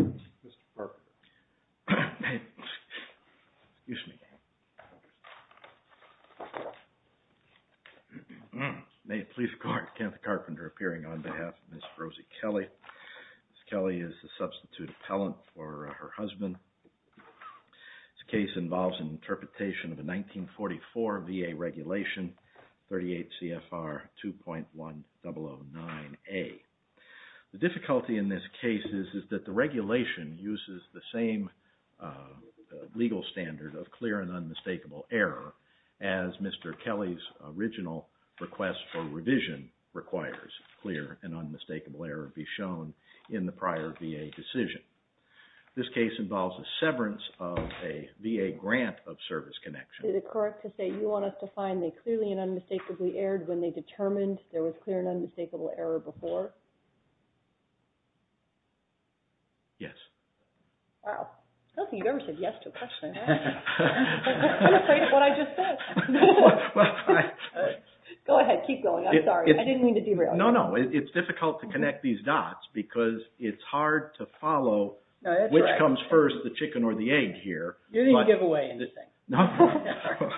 Mr. Carpenter. May it please the court, Kenneth Carpenter appearing on behalf of Ms. Rosie Kelly. Ms. Kelly is the substitute appellant for her husband. This case involves an interpretation of a 1944 VA regulation, 38 CFR 2.1009A. The difficulty in this case is that the regulation uses the same legal standard of clear and unmistakable error as Mr. Kelly's original request for revision requires clear and unmistakable error be shown in the prior VA decision. This case involves a severance of a VA grant of service connection. MS. KELLY Is it correct to say you want us to find the clearly and unmistakably errored when they determined there was clear and unmistakable error before? MR. CARPENTER Yes. MS. KELLY Wow. Kelsey, you've never said yes to a question. I'm afraid of what I just said. Go ahead. Keep going. I'm sorry. I didn't mean to derail you. MR. CARPENTER No, no. It's difficult to connect these dots because it's hard to follow which comes first, the chicken or the egg here. MS. KELLY You didn't give away anything. MR. CARPENTER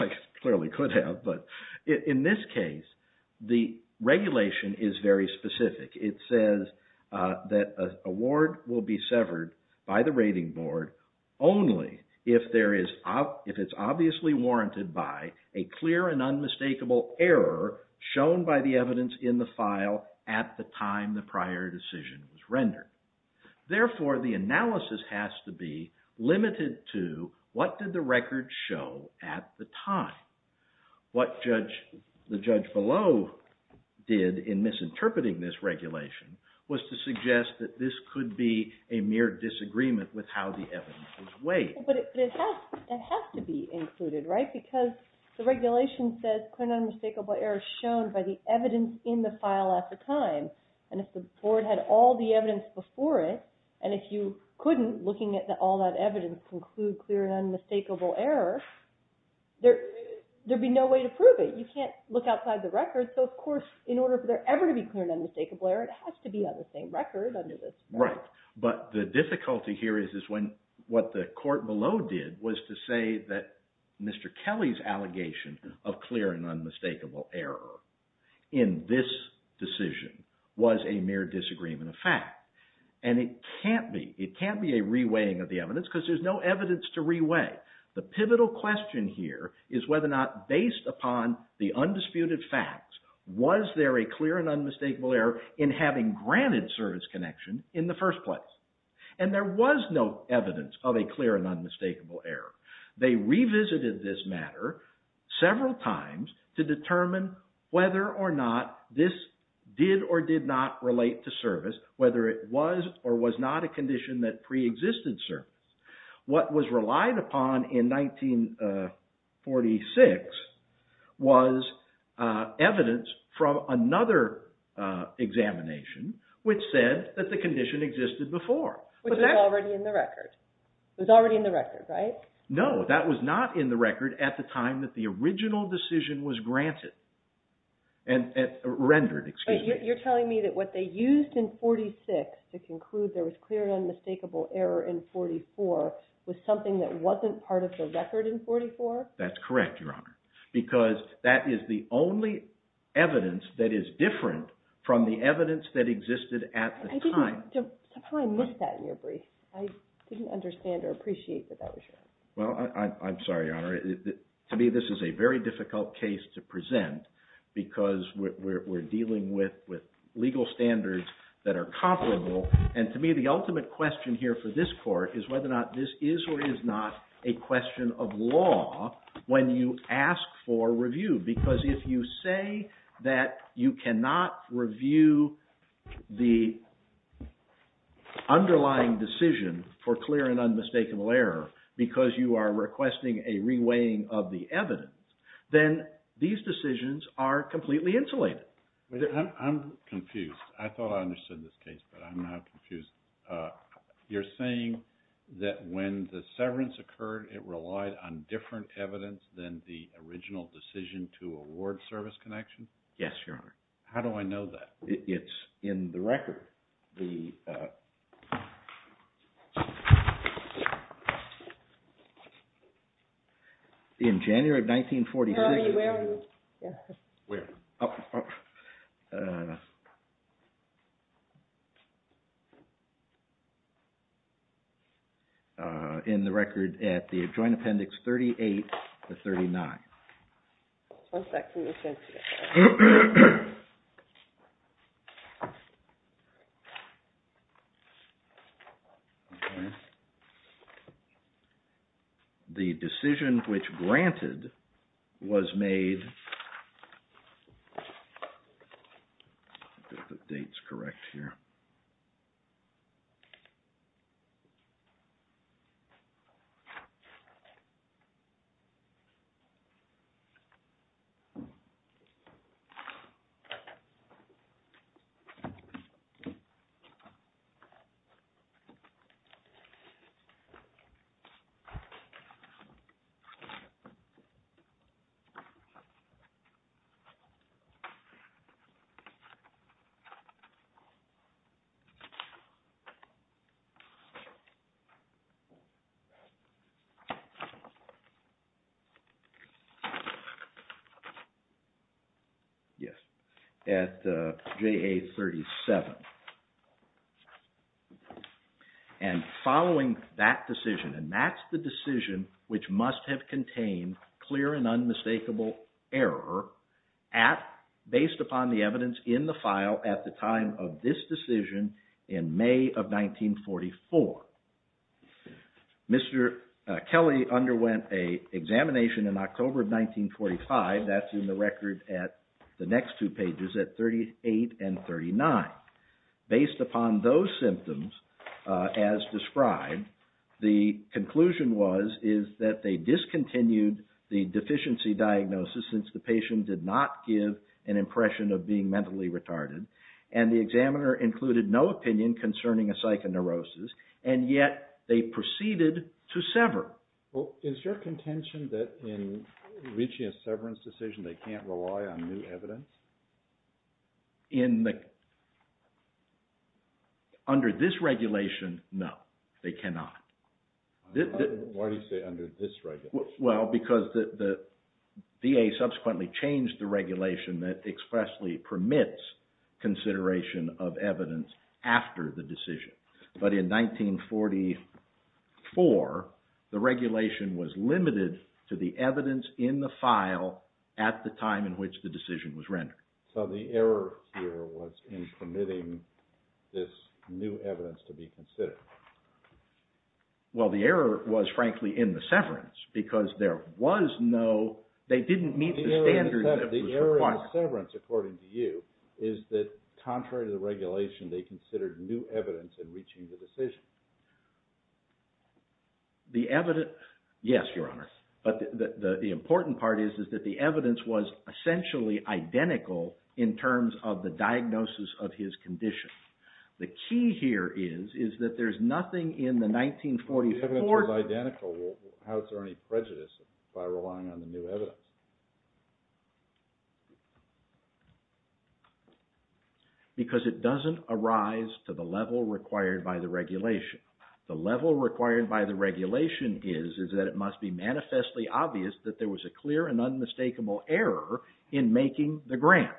I clearly could have, but in this case, the regulation is very specific. It says that an award will be severed by the rating board only if it's obviously warranted by a clear and unmistakable error shown by the evidence in the file at the time the prior decision was rendered. Therefore, the analysis has to be limited to what did the record show at the time. What the judge below did in misinterpreting this regulation was to suggest that this could be a mere disagreement with how the evidence was weighed. MS. KELLY But it has to be included, right, because the regulation says clear and unmistakable error shown by the evidence in the file at the time. And if the board had all the evidence before it, and if you couldn't, looking at all that evidence, conclude clear and unmistakable error, there'd be no way to prove it. You can't look outside the record. So, of course, in order for there ever to be clear and unmistakable error, it has to be on the same record under this. MR. CARPENTER Right. But the difficulty here is what the court below did was to say that Mr. Kelly's allegation of clear and unmistakable error in this decision was a mere disagreement of fact. And it can't be. It can't be a re-weighing of the evidence because there's no evidence to re-weigh. The pivotal question here is whether or not, based upon the undisputed facts, was there a clear and unmistakable error in having granted service connection in the first place? And there was no evidence of a clear and unmistakable error. They revisited this matter several times to determine whether or not this did or did not relate to service, whether it was or was not a condition that preexisted service. What was relied upon in 1946 was evidence from another examination which said that the condition existed before. Which was already in the record. It was already in the record, right? MR. CARPENTER No, that was not in the record at the time that the original decision was granted. Rendered, excuse me. MS. TAYLOR You're telling me that what they used in 1946 to conclude there was clear and unmistakable error in 1944 was something that wasn't part of the record in 1944? MR. CARPENTER That's correct, Your Honor, because that is the only evidence that is different from the evidence that existed at the time. MS. TAYLOR I totally missed that in your brief. I didn't understand or appreciate that that was your point. MR. CARPENTER Well, I'm sorry, Your Honor. To me, this is a very difficult case to present because we're dealing with legal standards that are comparable. And to me, the ultimate question here for this Court is whether or not this is or is not a question of law when you ask for review. Because if you say that you cannot review the underlying decision for clear and unmistakable error because you are requesting a reweighing of the evidence, then these decisions are completely insulated. MR. STEINWALD I'm confused. I thought I understood this case, but I'm not confused. You're saying that when the severance occurred, it relied on different evidence than the original decision to award service connection? MR. CARPENTER Yes, Your Honor. MR. STEINWALD How do I know that? MR. CARPENTER It's in the record. In January of 1946... MS. TAYLOR Where are you? MR. CARPENTER In the record at the Joint Appendix 38-39. MS. TAYLOR One second, let me finish here. MR. CARPENTER The decision which granted was made... MR. STEINWALD Yes, Your Honor. MR. CARPENTER Yes, at JA-37. And following that decision, and that's the decision which must have contained clear and unmistakable error based upon the evidence in the file at the time of this decision in May of 1944, Mr. Kelly underwent an examination in October of 1945, that's in the record at the next two pages at 38 and 39. Based upon those symptoms as described, the conclusion was that they discontinued the deficiency diagnosis since the patient did not give an impression of being mentally retarded, and the examiner included no opinion concerning a psychoneurosis, and yet they proceeded to sever. MR. STEINWALD Is there contention that in reaching a severance decision they can't rely on new evidence? MR. CARPENTER Under this regulation, no, they cannot. MR. STEINWALD Why do you say under this regulation? MR. CARPENTER Well, because the VA subsequently changed the regulation that expressly permits consideration of evidence after the decision. But in 1944, the regulation was limited to the evidence in the file at the time in which the decision was rendered. MR. STEINWALD So the error here was in permitting this new evidence to be considered. MR. CARPENTER Well, the error was, frankly, in the severance, because there was no, they didn't meet the standard that was required. MR. STEINWALD The error in the severance, according to you, is that contrary to the regulation, they considered new evidence in reaching the decision. MR. CARPENTER Yes, Your Honor, but the important part is that the evidence was essentially identical in terms of the diagnosis of his condition. The key here is that there's nothing in the 1944... MR. STEINWALD The evidence was identical. How is there any prejudice by relying on the new evidence? MR. CARPENTER Because it doesn't arise to the level required by the regulation. The level required by the regulation is that it must be manifestly obvious that there was a clear and unmistakable error in making the grant.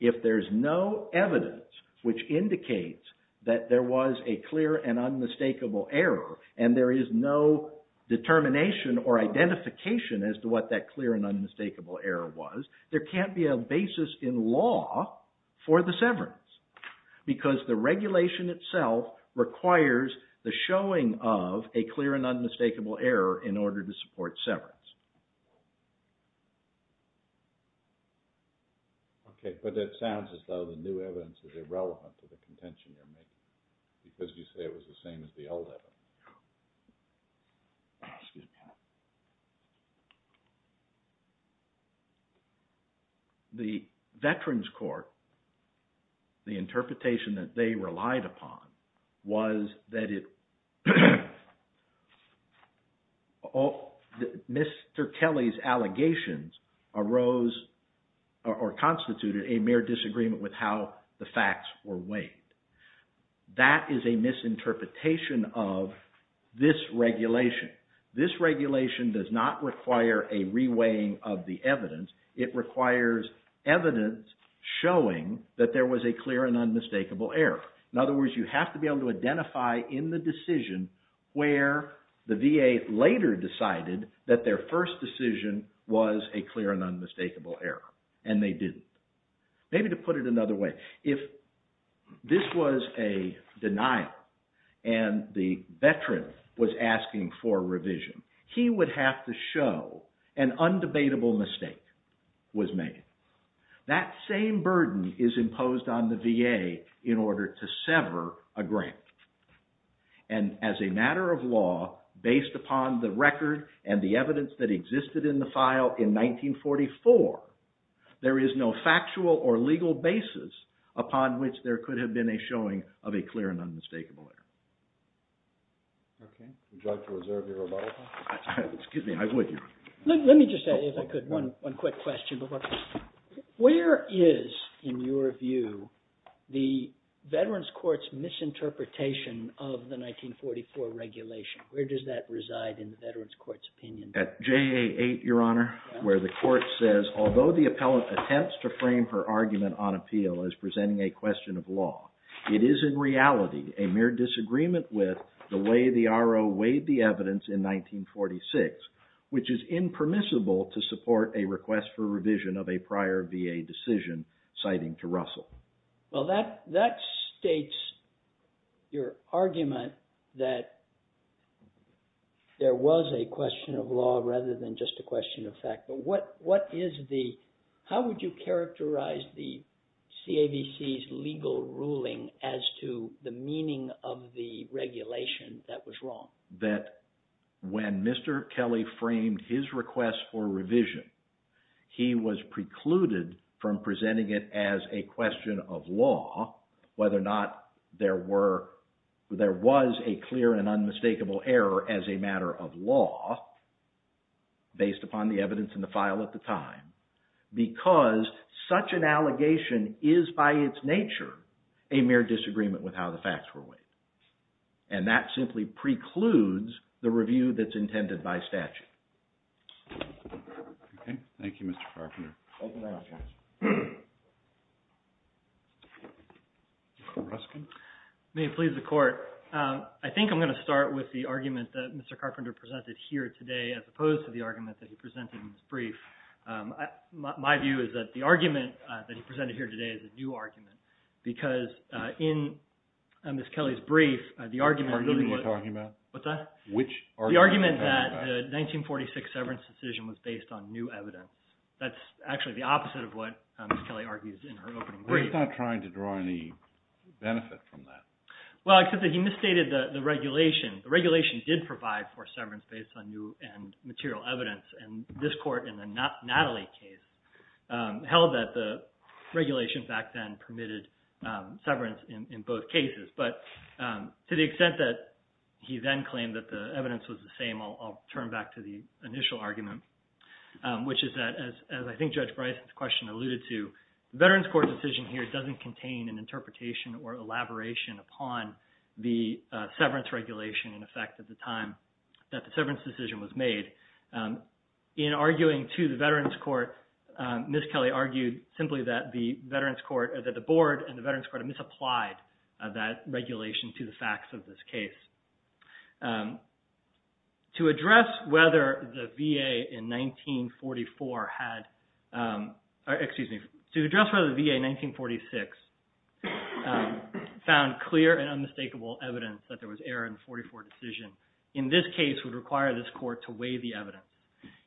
If there's no evidence which indicates that there was a clear and unmistakable error and there is no determination or identification as to what that clear and unmistakable error was, there can't be a basis in law for the severance, because the regulation itself requires the showing of a clear and unmistakable error in order to support severance. MR. STEINWALD Okay, but it sounds as though the new evidence is irrelevant to the contention you're making because you say it was the same as the old evidence. Excuse me. The Veterans Court, the interpretation that they relied upon was that Mr. Kelly's allegations arose or constituted a mere disagreement with how the facts were weighed. That is a misinterpretation of this regulation. This regulation does not require a re-weighing of the evidence. It requires evidence showing that there was a clear and unmistakable error. In other words, you have to be able to identify in the decision where the VA later decided that their first decision was a clear and unmistakable error, and they didn't. Maybe to put it another way, if this was a denial and the veteran was asking for revision, he would have to show an undebatable mistake was made. That same burden is imposed on the VA in order to sever a grant. And as a matter of law, based upon the record and the evidence that existed in the file in 1944, there is no factual or legal basis upon which there could have been a showing of a clear and unmistakable error. Okay. Would you like to reserve your rebuttal? Excuse me, I would. Let me just, if I could, one quick question. Where is, in your view, the Veterans Court's misinterpretation of the 1944 regulation? Where does that reside in the Veterans Court's opinion? At JA 8, Your Honor, where the court says, although the appellant attempts to frame her argument on appeal as presenting a question of law, it is in reality a mere disagreement with the way the RO weighed the evidence in 1946, which is impermissible to support a request for revision of a prior VA decision, citing to Russell. Well, that states your argument that there was a question of law rather than just a question of fact. But what is the, how would you characterize the CAVC's legal ruling as to the meaning of the regulation that was wrong? That when Mr. Kelly framed his request for revision, he was precluded from presenting it as a question of law, whether or not there were, there was a clear and unmistakable error as a matter of law, based upon the evidence in the file at the time, because such an allegation is by its nature a mere disagreement with how the facts were weighed. And that simply precludes the review that's intended by statute. Okay. Thank you, Mr. Carpenter. Thank you, Your Honor. Mr. Ruskin. May it please the Court, I think I'm going to start with the argument that Mr. Carpenter presented here today, as opposed to the argument that he presented in his brief. My view is that the argument that he presented here today is a new argument, because in Ms. Kelly's brief, the argument really was… Which argument? What's that? Which argument? He said that the 1946 severance decision was based on new evidence. That's actually the opposite of what Ms. Kelly argues in her opening brief. He's not trying to draw any benefit from that. Well, except that he misstated the regulation. The regulation did provide for severance based on new and material evidence. And this Court, in the Natalie case, held that the regulation back then permitted severance in both cases. But to the extent that he then claimed that the evidence was the same, I'll turn back to the initial argument, which is that, as I think Judge Bryson's question alluded to, the Veterans Court decision here doesn't contain an interpretation or elaboration upon the severance regulation in effect at the time that the severance decision was made. In arguing to the Veterans Court, Ms. Kelly argued simply that the Board and the Veterans Court had misapplied that regulation to the facts of this case. To address whether the VA in 1944 had… Excuse me. To address whether the VA in 1946 found clear and unmistakable evidence that there was error in the 1944 decision, in this case would require this Court to weigh the evidence.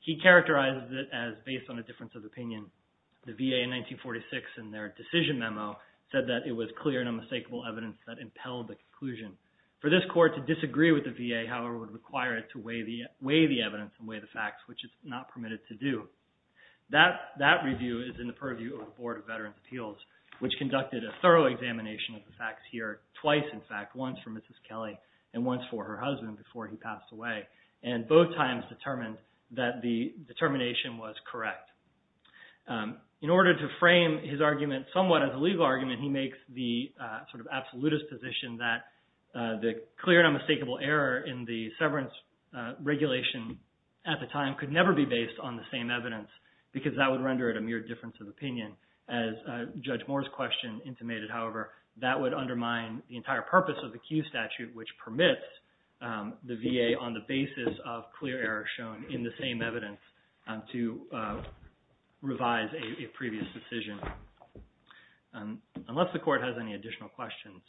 He characterized it as based on a difference of opinion. The VA in 1946 in their decision memo said that it was clear and unmistakable evidence that impelled the conclusion. For this Court to disagree with the VA, however, would require it to weigh the evidence and weigh the facts, which it's not permitted to do. That review is in the purview of the Board of Veterans' Appeals, which conducted a thorough examination of the facts here twice, in fact, once for Mrs. Kelly and once for her husband before he passed away, and both times determined that the determination was correct. In order to frame his argument somewhat as a legal argument, he makes the sort of absolutist position that the clear and unmistakable error in the severance regulation at the time could never be based on the same evidence because that would render it a mere difference of opinion. As Judge Moore's question intimated, however, that would undermine the entire purpose of the Kew Statute, which permits the VA on the basis of clear error shown in the same evidence to revise a previous decision. Unless the Court has any additional questions,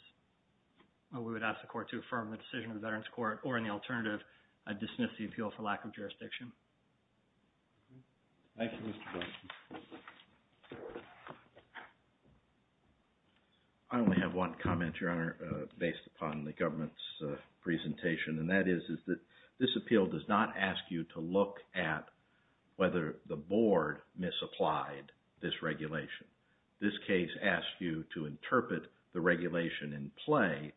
we would ask the Court to affirm the decision of the Veterans' Court or, in the alternative, dismiss the appeal for lack of jurisdiction. Thank you, Mr. Blunt. I only have one comment, Your Honor, based upon the government's presentation. And that is that this appeal does not ask you to look at whether the Board misapplied this regulation. This case asks you to interpret the regulation in play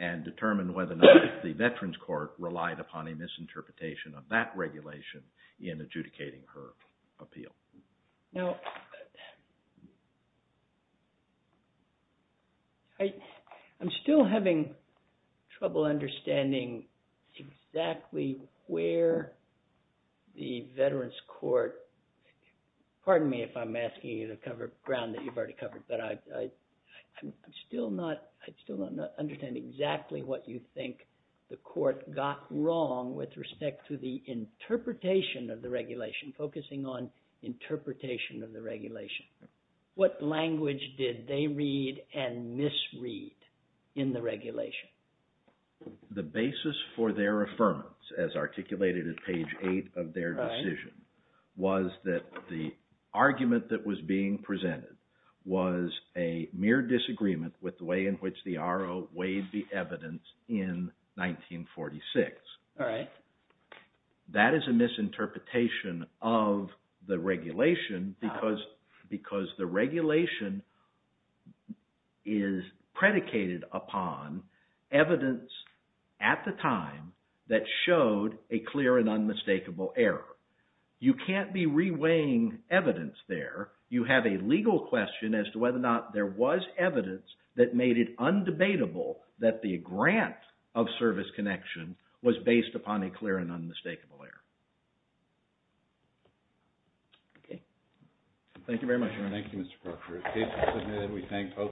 and determine whether or not the Veterans' Court relied upon a misinterpretation of that regulation in adjudicating her appeal. Now, I'm still having trouble understanding exactly where the Veterans' Court – pardon me if I'm asking you to cover ground that you've already covered, but I still do not understand exactly what you think the Court got wrong with respect to the interpretation of the regulation, focusing on interpretation of the regulation. What language did they read and misread in the regulation? The basis for their affirmance, as articulated at page 8 of their decision, was that the argument that was being presented was a mere disagreement with the way in which the R.O. weighed the evidence in 1946. All right. That is a misinterpretation of the regulation because the regulation is predicated upon evidence at the time that showed a clear and unmistakable error. You can't be reweighing evidence there. You have a legal question as to whether or not there was evidence that made it undebatable that the grant of service connection was based upon a clear and unmistakable error. Okay. Thank you very much. Thank you, Mr. Proctor.